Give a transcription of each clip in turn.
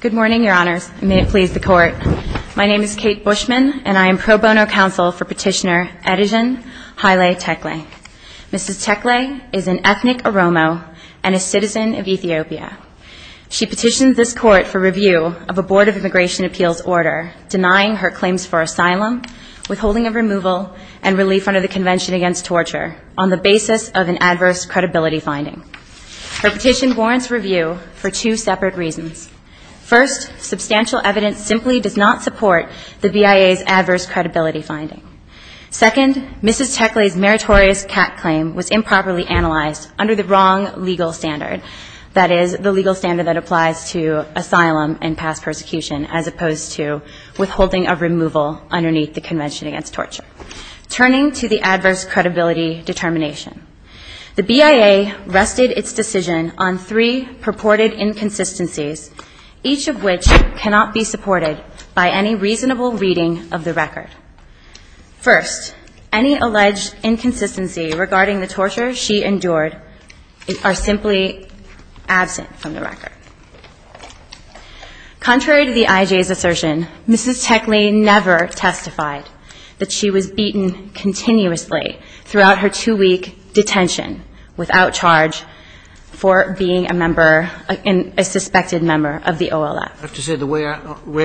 Good morning, Your Honors. May it please the Court. My name is Kate Bushman, and I am pro bono counsel for Petitioner Adijan Haile Tekle. Mrs. Tekle is an ethnic Oromo and a citizen of Ethiopia. She petitions this Court for review of a Board of Immigration Appeals order denying her claims for asylum, withholding of removal, and relief under the Convention Against Torture on the basis of an adverse credibility finding. Her petition warrants review for two separate reasons. First, substantial evidence simply does not support the BIA's adverse credibility finding. Second, Mrs. Tekle's meritorious cat claim was improperly analyzed under the wrong legal standard, that is, the legal standard that applies to asylum and past persecution as opposed to withholding of removal underneath the Convention Against Torture. Turning to the adverse credibility determination, the BIA rested its decision on three purported inconsistencies, each of which cannot be supported by any reasonable reading of the record. First, any alleged inconsistency regarding the torture she endured are simply absent from the record. Contrary to the IJ's assertion, Mrs. Tekle never testified that she was beaten continuously throughout her two-week detention without charge for being a member, a suspected member of the OLF. I have to say, the way I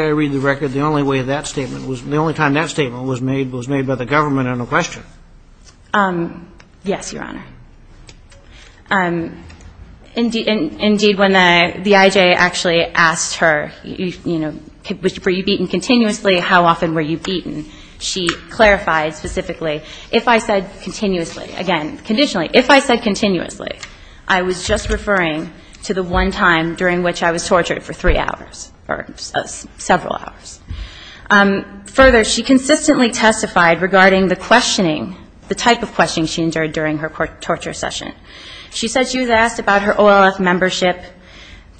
read the record, the only way that statement was, the only time that statement was made was made by the government on a question. Yes, Your Honor. Indeed, when the IJ actually asked her, you know, were you beaten continuously, how often were you beaten, she clarified specifically, if I said continuously, again, conditionally, if I said continuously, I was just referring to the one time during which I was tortured for three hours or several hours. Further, she consistently testified regarding the questioning, the type of questioning she endured during her torture session. She said she was asked about her OLF membership,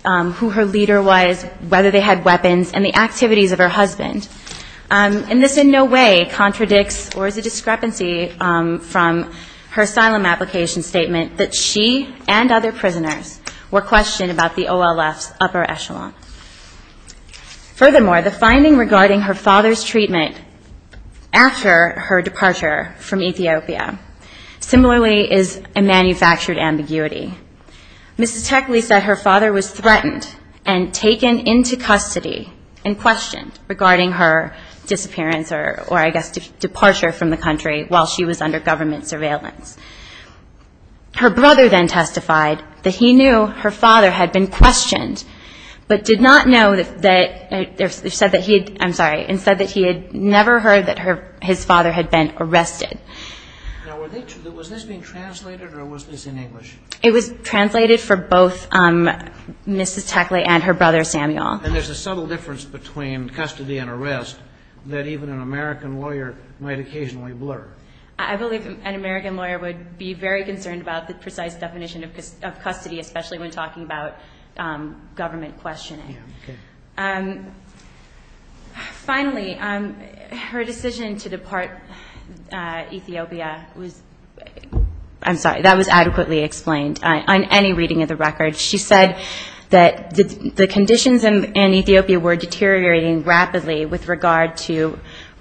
who her leader was, whether they had weapons, and the activities of her husband. And this in no way contradicts or is a discrepancy from her asylum application statement that she and other prisoners were questioned about the OLF's upper echelon. Furthermore, the finding regarding her father's treatment after her departure from Ethiopia similarly is a manufactured ambiguity. Mrs. Techley said her father was threatened and taken into custody and questioned regarding her disappearance or, I guess, departure from the country while she was under government surveillance. Her brother then testified that he knew her father had been questioned, but did not know that, I'm sorry, and said that he had never heard that his father had been arrested. Now, was this being translated or was this in English? It was translated for both Mrs. Techley and her brother Samuel. And there's a subtle difference between custody and arrest that even an American lawyer might occasionally blur. I believe an American lawyer would be very concerned about the precise definition of custody, especially when talking about government questioning. Yeah, okay. Finally, her decision to depart Ethiopia was, I'm sorry, that was adequately explained on any reading of the record. She said that the conditions in Ethiopia were deteriorating rapidly with regard to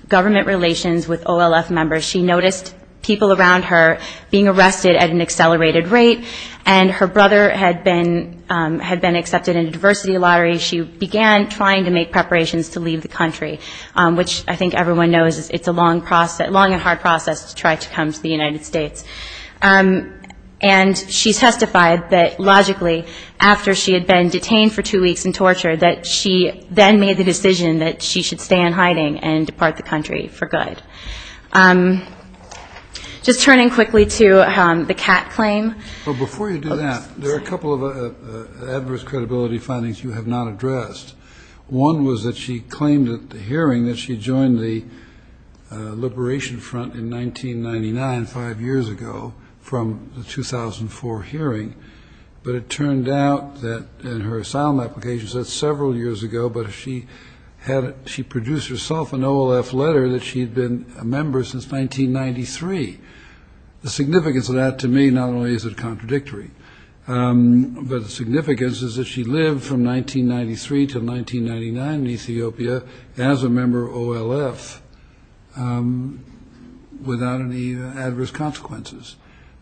government relations with OLF members. She noticed people around her being arrested at an accelerated rate, and her brother had been accepted in a diversity lottery. She began trying to make preparations to leave the country, which I think everyone knows it's a long and hard process to try to come to the United States. And she testified that, logically, after she had been detained for two weeks and tortured, that she then made the decision that she should stay in hiding and depart the country for good. Just turning quickly to the CAT claim. Before you do that, there are a couple of adverse credibility findings you have not addressed. One was that she claimed at the hearing that she joined the Liberation Front in 1999, five years ago, from the 2004 hearing. But it turned out that, in her asylum application, she said several years ago, but she produced herself an OLF letter that she had been a member since 1993. The significance of that, to me, not only is it contradictory, but the significance is that she lived from 1993 to 1999 in Ethiopia as a member of OLF without any adverse consequences.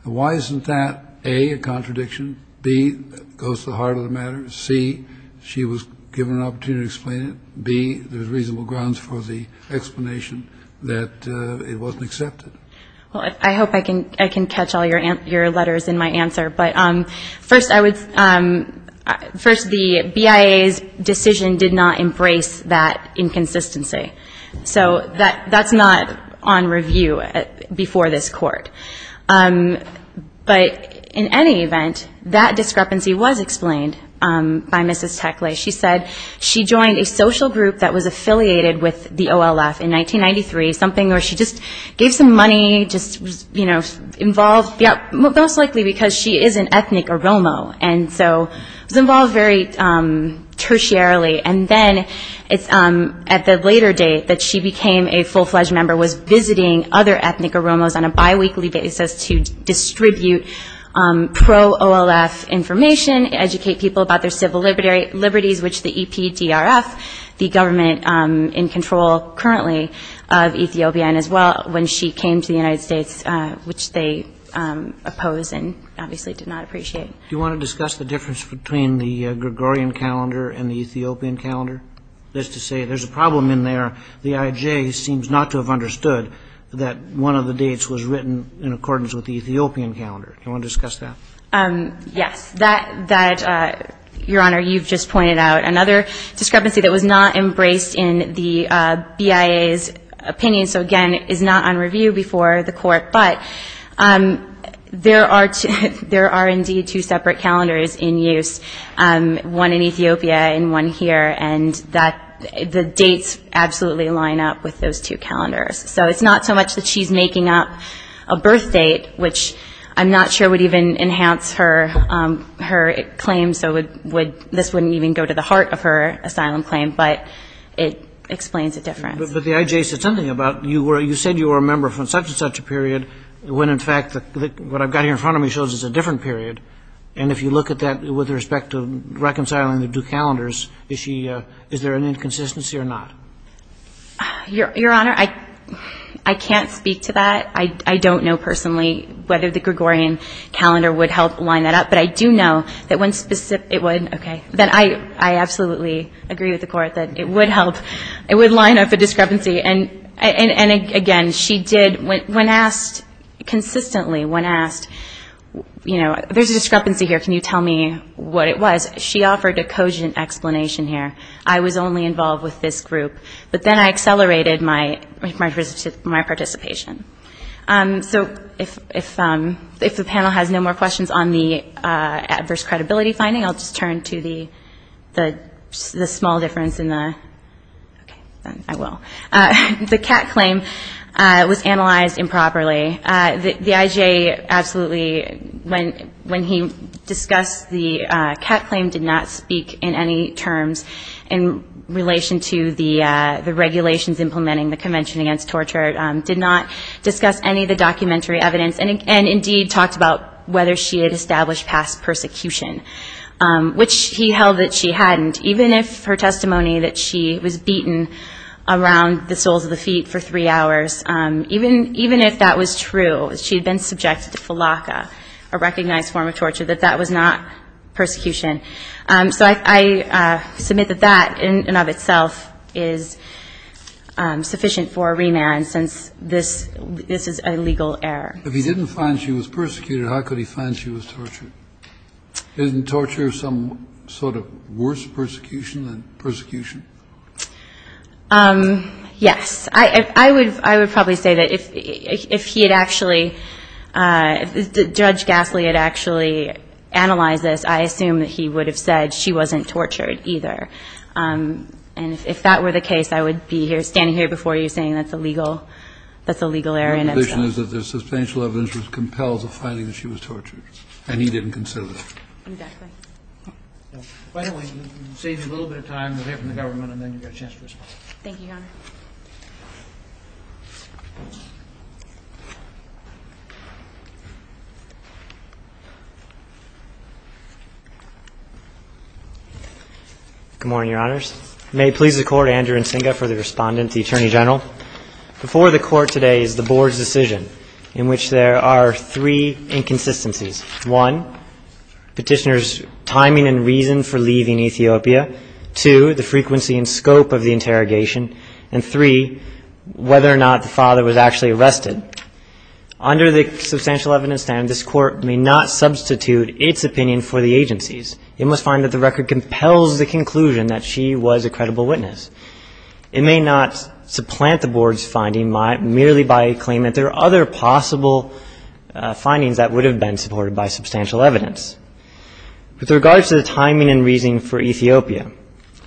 Why isn't that, A, a contradiction, B, that goes to the heart of the matter, C, she was given an opportunity to explain it, B, there's reasonable grounds for the explanation that it wasn't accepted? I hope I can catch all your letters in my answer. But first, the BIA's decision did not embrace that inconsistency. So that's not on review before this court. But in any event, that discrepancy was explained by Mrs. Tekle. She said she joined a social group that was affiliated with the OLF in 1993, something where she just gave some money, just, you know, involved, most likely because she is an ethnic Oromo, and so was involved very tertiarily. And then it's at the later date that she became a full-fledged member, was visiting other ethnic Oromos on a biweekly basis to distribute pro-OLF information, educate people about their civil liberties, which the EPDRF, the government in control currently of Ethiopia, and as well when she came to the United States, which they opposed and obviously did not appreciate. Do you want to discuss the difference between the Gregorian calendar and the Ethiopian calendar? That is to say, there's a problem in there. The IJ seems not to have understood that one of the dates was written in accordance with the Ethiopian calendar. Do you want to discuss that? Yes. That, Your Honor, you've just pointed out. Another discrepancy that was not embraced in the BIA's opinion, so again, is not on review before the court, but there are indeed two separate calendars in use, one in Ethiopia and one here, and the dates absolutely line up with those two calendars. So it's not so much that she's making up a birth date, which I'm not sure would even enhance her claim, so this wouldn't even go to the heart of her asylum claim, but it explains a difference. But the IJ said something about you said you were a member from such and such a period when in fact what I've got here in front of me shows it's a different period, and if you look at that with respect to reconciling the two calendars, is there an inconsistency or not? Your Honor, I can't speak to that. I don't know personally whether the Gregorian calendar would help line that up, but I do know that when specific, it would, okay, that I absolutely agree with the court that it would help, it would line up a discrepancy, and again, she did, when asked consistently, when asked, you know, there's a discrepancy here, can you tell me what it was, she offered a cogent explanation here. I was only involved with this group, but then I accelerated my participation. So if the panel has no more questions on the adverse credibility finding, I'll just turn to the small difference in the, okay, then I will. The CAT claim was analyzed improperly. The IJ absolutely, when he discussed the CAT claim, did not speak in any terms in relation to the regulations implementing the Convention Against Torture, did not discuss any of the documentary evidence, and indeed talked about whether she had established past persecution, which he held that she hadn't, even if her testimony that she was beaten around the soles of the feet for three hours, even if that was true, she had been subjected to falaka, a recognized form of torture, that that was not persecution. So I submit that that, in and of itself, is sufficient for a remand, since this is a legal error. If he didn't find she was persecuted, how could he find she was tortured? Isn't torture some sort of worse persecution than persecution? Yes. I would probably say that if he had actually, if Judge Gasly had actually analyzed this, I assume that he would have said she wasn't tortured either. And if that were the case, I would be here standing here before you saying that's a legal error. My position is that the substantial evidence was compelled to find that she was tortured, and he didn't consider that. Exactly. Finally, you can save me a little bit of time to hear from the government, and then you've got a chance to respond. Thank you, Your Honor. Good morning, Your Honors. May it please the Court, Andrew Nsinga for the Respondent, the Attorney General. Before the Court today is the Board's decision, in which there are three inconsistencies. One, Petitioner's timing and reason for leaving Ethiopia. Two, the frequency and scope of the interrogation. And three, whether or not the father was actually arrested. Under the substantial evidence standard, this Court may not substitute its opinion for the agency's. It must find that the record compels the conclusion that she was a credible witness. It may not supplant the Board's finding merely by a claim that there are other possible findings that would have been supported by substantial evidence. With regards to the timing and reason for Ethiopia,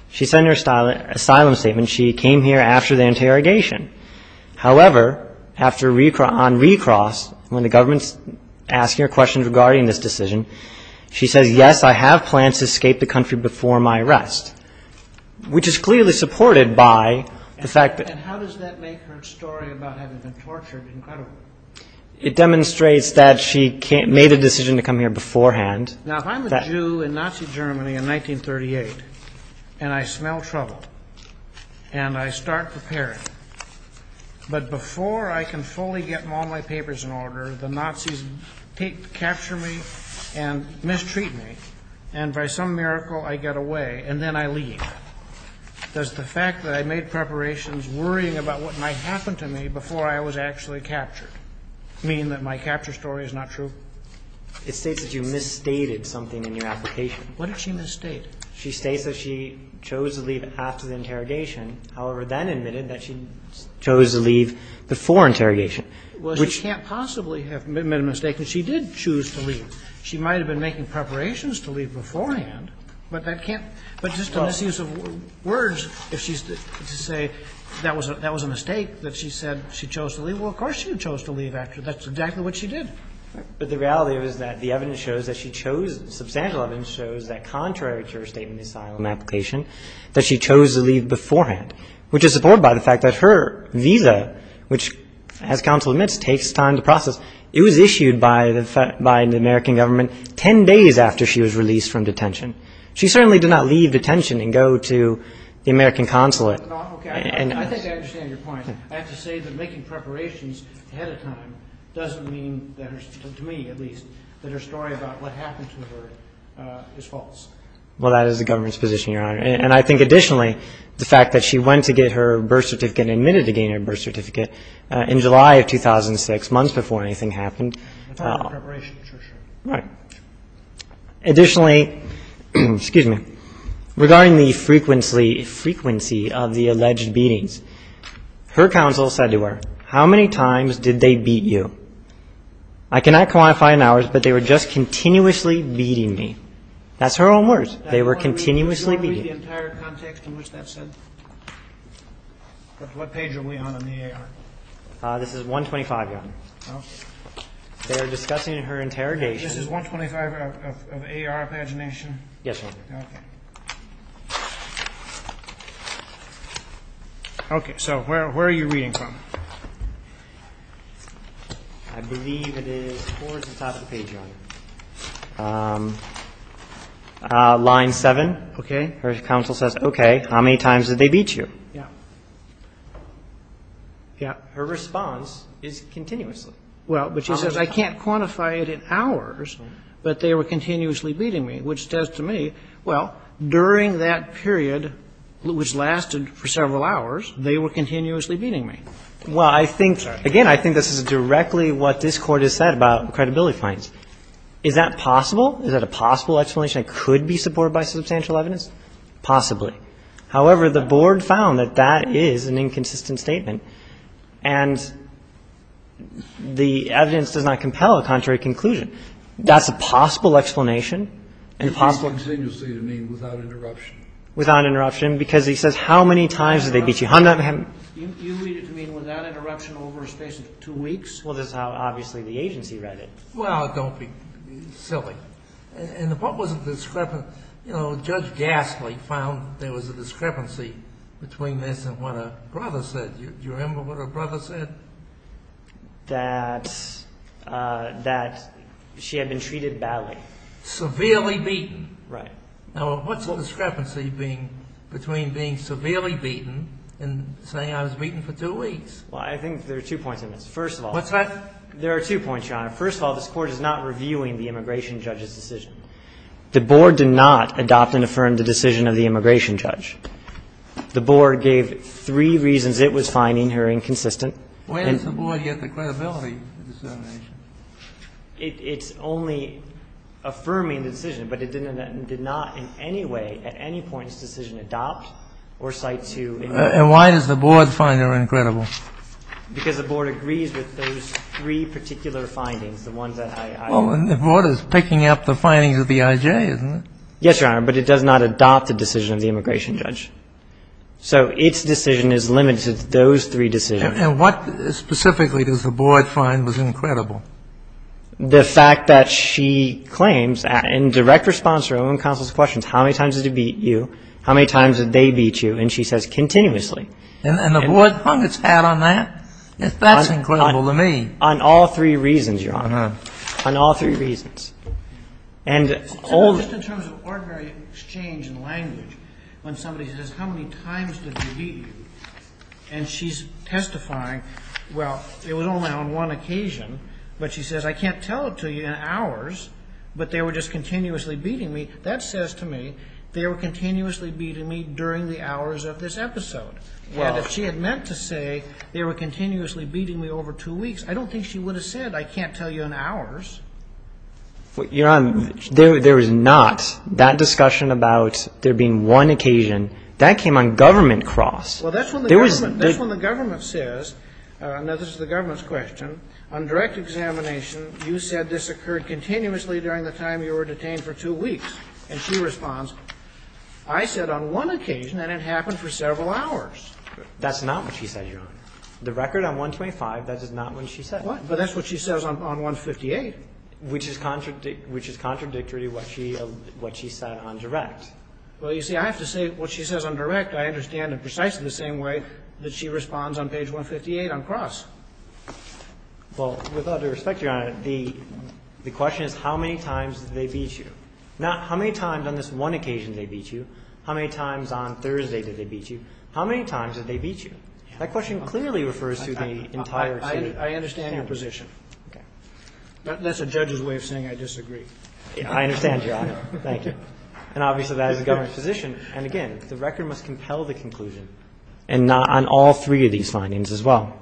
she said in her asylum statement she came here after the interrogation. However, on recross, when the government's asking her questions regarding this decision, she says, yes, I have plans to escape the country before my arrest, which is clearly supported by the fact that the body was found. And how does that make her story about having been tortured incredible? It demonstrates that she made a decision to come here beforehand. Now, if I'm a Jew in Nazi Germany in 1938, and I smell trouble, and I start preparing, but before I can fully get all my papers in order, the Nazis capture me and mistreat me, and by some miracle I get away, and then I leave. There's the fact that I made preparations worrying about what might happen to me before I was actually captured, meaning that my capture story is not true. It states that you misstated something in your application. What did she misstate? She states that she chose to leave after the interrogation, however, then admitted that she chose to leave before interrogation. Well, she can't possibly have made a mistake, because she did choose to leave. She might have been making preparations to leave beforehand, but that can't be just a misuse of words if she's to say that was a mistake, that she said she chose to leave. Well, of course she chose to leave after. That's exactly what she did. But the reality is that the evidence shows that she chose, substantial evidence shows, that contrary to her statement in the asylum application, that she chose to leave beforehand, which is supported by the fact that her visa, which, as counsel admits, takes time to process, it was issued by the American government 10 days after she was released from detention. She certainly did not leave detention and go to the American consulate. Okay. I think I understand your point. I have to say that making preparations ahead of time doesn't mean, to me at least, that her story about what happened to her is false. Well, that is the government's position, Your Honor. And I think additionally, the fact that she went to get her birth certificate and admitted to getting her birth certificate in July of 2006, months before anything happened. It's not a preparation, it's her story. Right. Additionally, excuse me, regarding the frequency of the alleged beatings, her counsel said to her, how many times did they beat you? I cannot quantify in hours, but they were just continuously beating me. That's her own words. They were continuously beating me. Do you want to read the entire context in which that's said? What page are we on in the AR? This is 125, Your Honor. They're discussing her interrogation. This is 125 of AR pagination? Yes, Your Honor. Okay. So where are you reading from? I believe it is towards the top of the page, Your Honor. Line 7. Okay. Her counsel says, okay, how many times did they beat you? Yeah. Yeah. Her response is continuously. Well, but she says, I can't quantify it in hours, but they were continuously beating me, which says to me, well, during that period, which lasted for several hours, they were continuously beating me. Well, I think, again, I think this is directly what this Court has said about credibility claims. Is that possible? Is that a possible explanation that could be supported by substantial evidence? Possibly. Possibly. However, the Board found that that is an inconsistent statement, and the evidence does not compel a contrary conclusion. That's a possible explanation and a possible one. You read it continuously to mean without interruption. Without interruption, because he says, how many times did they beat you? You read it to mean without interruption over a space of two weeks? Well, this is how, obviously, the agency read it. Well, don't be silly. And what was the discrepancy? You know, Judge Gastly found there was a discrepancy between this and what her brother said. Do you remember what her brother said? That she had been treated badly. Severely beaten. Right. Now, what's the discrepancy between being severely beaten and saying I was beaten for two weeks? Well, I think there are two points in this. First of all. What's that? There are two points, Your Honor. First of all, this Court is not reviewing the immigration judge's decision. The Board did not adopt and affirm the decision of the immigration judge. The Board gave three reasons it was finding her inconsistent. And it's only affirming the decision, but it did not in any way at any point in its decision adopt or cite to. And why does the Board find her incredible? Because the Board agrees with those three particular findings, the ones that I ---- Well, and the Board is picking up the findings of the IJ, isn't it? Yes, Your Honor. But it does not adopt the decision of the immigration judge. So its decision is limited to those three decisions. And what specifically does the Board find was incredible? The fact that she claims in direct response to her own counsel's questions, how many times did he beat you, how many times did they beat you, and she says continuously. And the Board hung its hat on that? That's incredible to me. On all three reasons, Your Honor. On all three reasons. Just in terms of ordinary exchange and language, when somebody says, how many times did he beat you? And she's testifying, well, it was only on one occasion, but she says, I can't tell it to you in hours, but they were just continuously beating me. That says to me they were continuously beating me during the hours of this episode. And if she had meant to say they were continuously beating me over two weeks, I don't think she would have said I can't tell you in hours. Your Honor, there is not that discussion about there being one occasion. That came on government cross. Well, that's when the government says, and this is the government's question, on direct examination, you said this occurred continuously during the time you were detained for two weeks. And she responds, I said on one occasion and it happened for several hours. That's not what she said, Your Honor. The record on 125, that is not what she said. But that's what she says on 158. Which is contradictory to what she said on direct. Well, you see, I have to say what she says on direct I understand in precisely the same way that she responds on page 158 on cross. Well, with all due respect, Your Honor, the question is how many times did they beat you? Not how many times on this one occasion did they beat you. How many times on Thursday did they beat you? How many times did they beat you? That question clearly refers to the entire state. I understand your position. Okay. That's a judge's way of saying I disagree. I understand, Your Honor. Thank you. And obviously that is the government's position. And again, the record must compel the conclusion. And not on all three of these findings as well.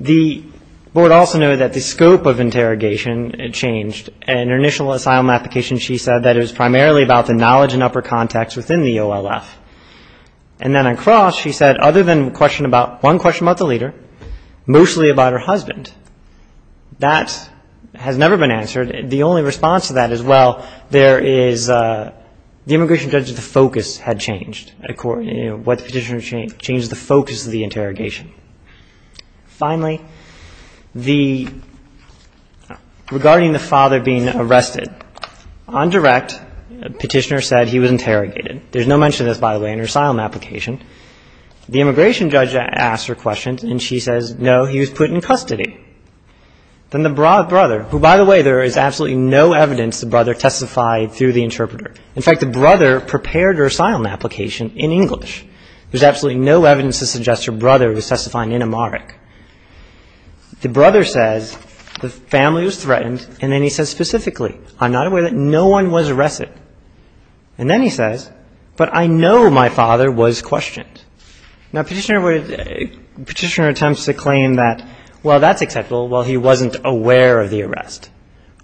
The board also noted that the scope of interrogation changed. In her initial asylum application she said that it was primarily about the knowledge and upper context within the OLF. And then on cross she said other than one question about the leader, mostly about her husband. That has never been answered. The only response to that is, well, there is the immigration judge's focus had changed. What the petitioner changed is the focus of the interrogation. Finally, regarding the father being arrested, on direct the petitioner said he was interrogated. There is no mention of this, by the way, in her asylum application. The immigration judge asked her questions and she says, no, he was put in custody. Then the brother, who by the way there is absolutely no evidence the brother testified through the interpreter. In fact, the brother prepared her asylum application in English. There is absolutely no evidence to suggest her brother was testifying in Amharic. The brother says the family was threatened. And then he says specifically, I'm not aware that no one was arrested. And then he says, but I know my father was questioned. Now petitioner attempts to claim that, well, that's acceptable. Well, he wasn't aware of the arrest.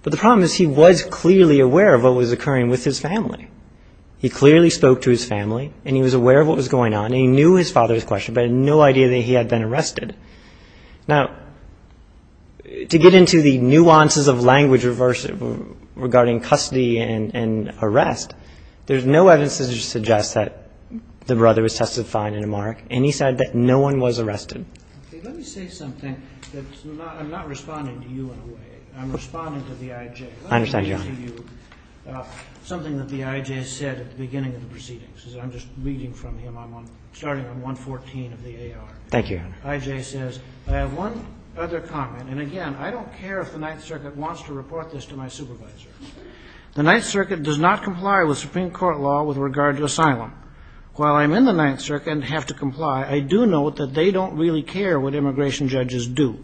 But the problem is he was clearly aware of what was occurring with his family. He clearly spoke to his family and he was aware of what was going on. He knew his father was questioned but had no idea that he had been arrested. Now, to get into the nuances of language regarding custody and arrest, there is no evidence to suggest that the brother was testified in Amharic. And he said that no one was arrested. Let me say something. I'm not responding to you in a way. I'm responding to the I.J. I understand, Your Honor. Let me read to you something that the I.J. said at the beginning of the proceedings. I'm just reading from him. I'm starting on 114 of the A.R. Thank you, Your Honor. I.J. says, I have one other comment. And again, I don't care if the Ninth Circuit wants to report this to my supervisor. The Ninth Circuit does not comply with Supreme Court law with regard to asylum. While I'm in the Ninth Circuit and have to comply, I do note that they don't really care what immigration judges do.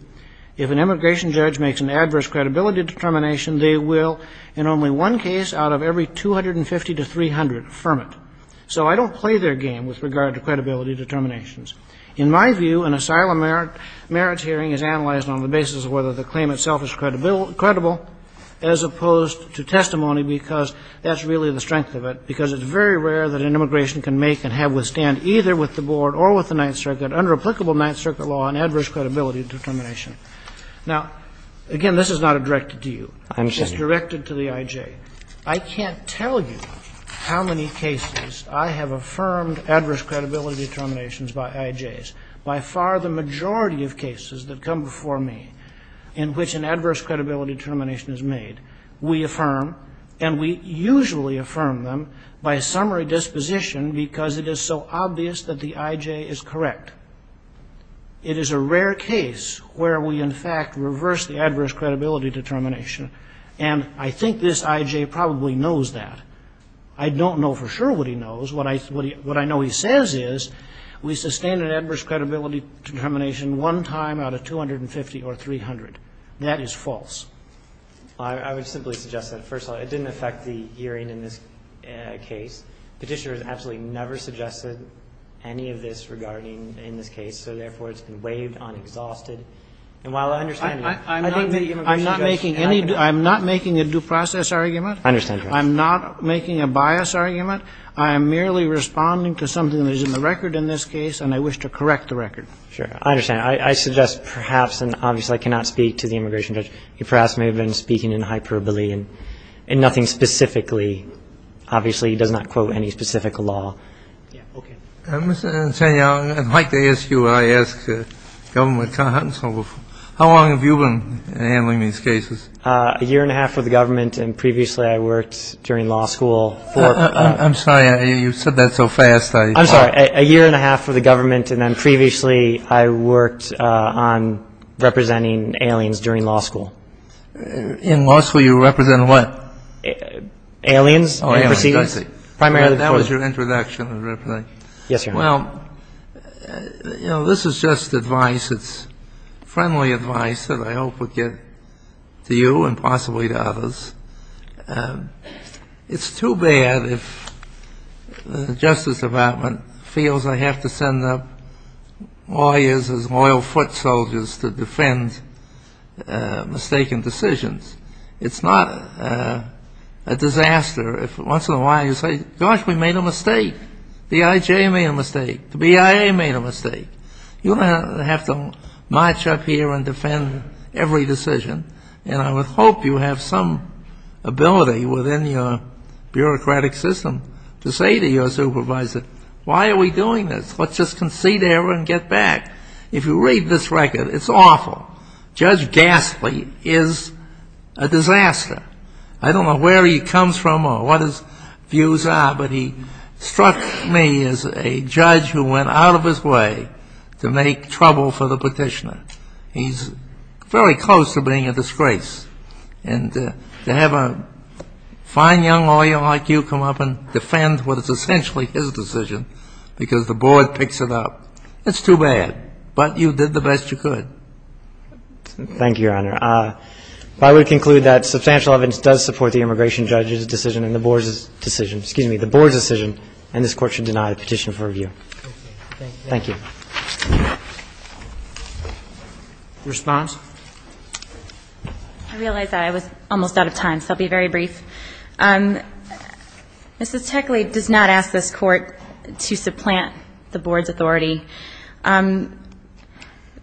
If an immigration judge makes an adverse credibility determination, they will, in only one case out of every 250 to 300, affirm it. So I don't play their game with regard to credibility determinations. In my view, an asylum merits hearing is analyzed on the basis of whether the claim itself is credible as opposed to testimony, because that's really the strength of it, because it's very rare that an immigration can make and have withstand either with the Board or with the Ninth Circuit under applicable Ninth Circuit law an adverse credibility determination. Now, again, this is not directed to you. It's directed to the I.J. I can't tell you how many cases I have affirmed adverse credibility determinations by I.J.s. By far, the majority of cases that come before me in which an adverse credibility determination is made, we affirm, and we usually affirm them by summary disposition because it is so obvious that the I.J. is correct. It is a rare case where we, in fact, reverse the adverse credibility determination, and I think this I.J. probably knows that. I don't know for sure what he knows. What I know he says is we sustain an adverse credibility determination one time out of 250 or 300. That is false. Well, I would simply suggest that, first of all, it didn't affect the hearing in this case. Petitioner has absolutely never suggested any of this regarding in this case, so therefore it's been waived on exhausted. And while I understand that, I think that the immigration judge and I can agree on that. I'm not making a due process argument. I understand, Your Honor. I'm not making a bias argument. I am merely responding to something that is in the record in this case, and I wish to correct the record. Sure. I understand. I suggest perhaps, and obviously I cannot speak to the immigration judge, he perhaps may have been speaking in hyperbole and nothing specifically. Obviously, he does not quote any specific law. Okay. Mr. Insania, I'd like to ask you what I asked the government counsel before. How long have you been handling these cases? A year and a half for the government, and previously I worked during law school for ---- You said that so fast, I ---- I'm sorry. A year and a half for the government, and then previously I worked on representing aliens during law school. In law school, you represented what? Aliens. Oh, aliens, I see. Primarily for ---- That was your introduction. Yes, Your Honor. Well, you know, this is just advice. It's friendly advice that I hope would get to you and possibly to others. It's too bad if the Justice Department feels I have to send up lawyers as loyal foot soldiers to defend mistaken decisions. It's not a disaster if once in a while you say, gosh, we made a mistake. The IJ made a mistake. The BIA made a mistake. You don't have to march up here and defend every decision, and I would hope you have some ability within your bureaucratic system to say to your supervisor, why are we doing this? Let's just concede error and get back. If you read this record, it's awful. Judge Gasly is a disaster. I don't know where he comes from or what his views are, but he struck me as a judge who went out of his way to make trouble for the petitioner. He's very close to being a disgrace, and to have a fine young lawyer like you come up and defend what is essentially his decision because the board picks it up, it's too bad. But you did the best you could. Thank you, Your Honor. But I would conclude that substantial evidence does support the immigration judge's decision and the board's decision. Excuse me, the board's decision, and this Court should deny the petition for review. Thank you. Thank you. Response? I realize that I was almost out of time, so I'll be very brief. Mrs. Techley does not ask this Court to supplant the board's authority.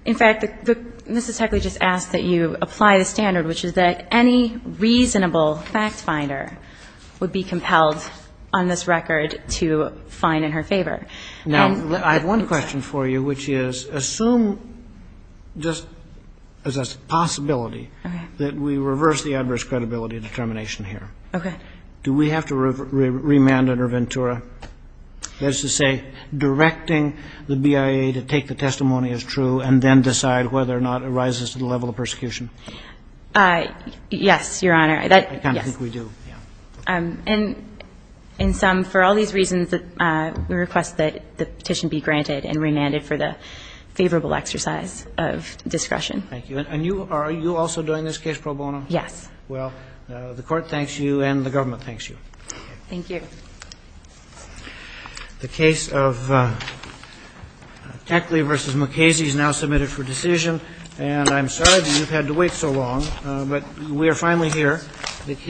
In fact, Mrs. Techley just asked that you apply the standard, which is that any reasonable fact-finder would be compelled on this record to fine in her favor. Now, I have one question for you, which is, assume just as a possibility that we reverse the adverse credibility determination here. Okay. Do we have to remand under Ventura? That is to say, directing the BIA to take the testimony as true and then decide whether or not it rises to the level of persecution. Yes, Your Honor. I kind of think we do. Yes. And in sum, for all these reasons, we request that the petition be granted and remanded for the favorable exercise of discretion. Thank you. And are you also doing this case pro bono? Yes. Well, the Court thanks you and the government thanks you. Thank you. The case of Techley v. McKasey is now submitted for decision. And I'm sorry that you've had to wait so long, but we are finally here.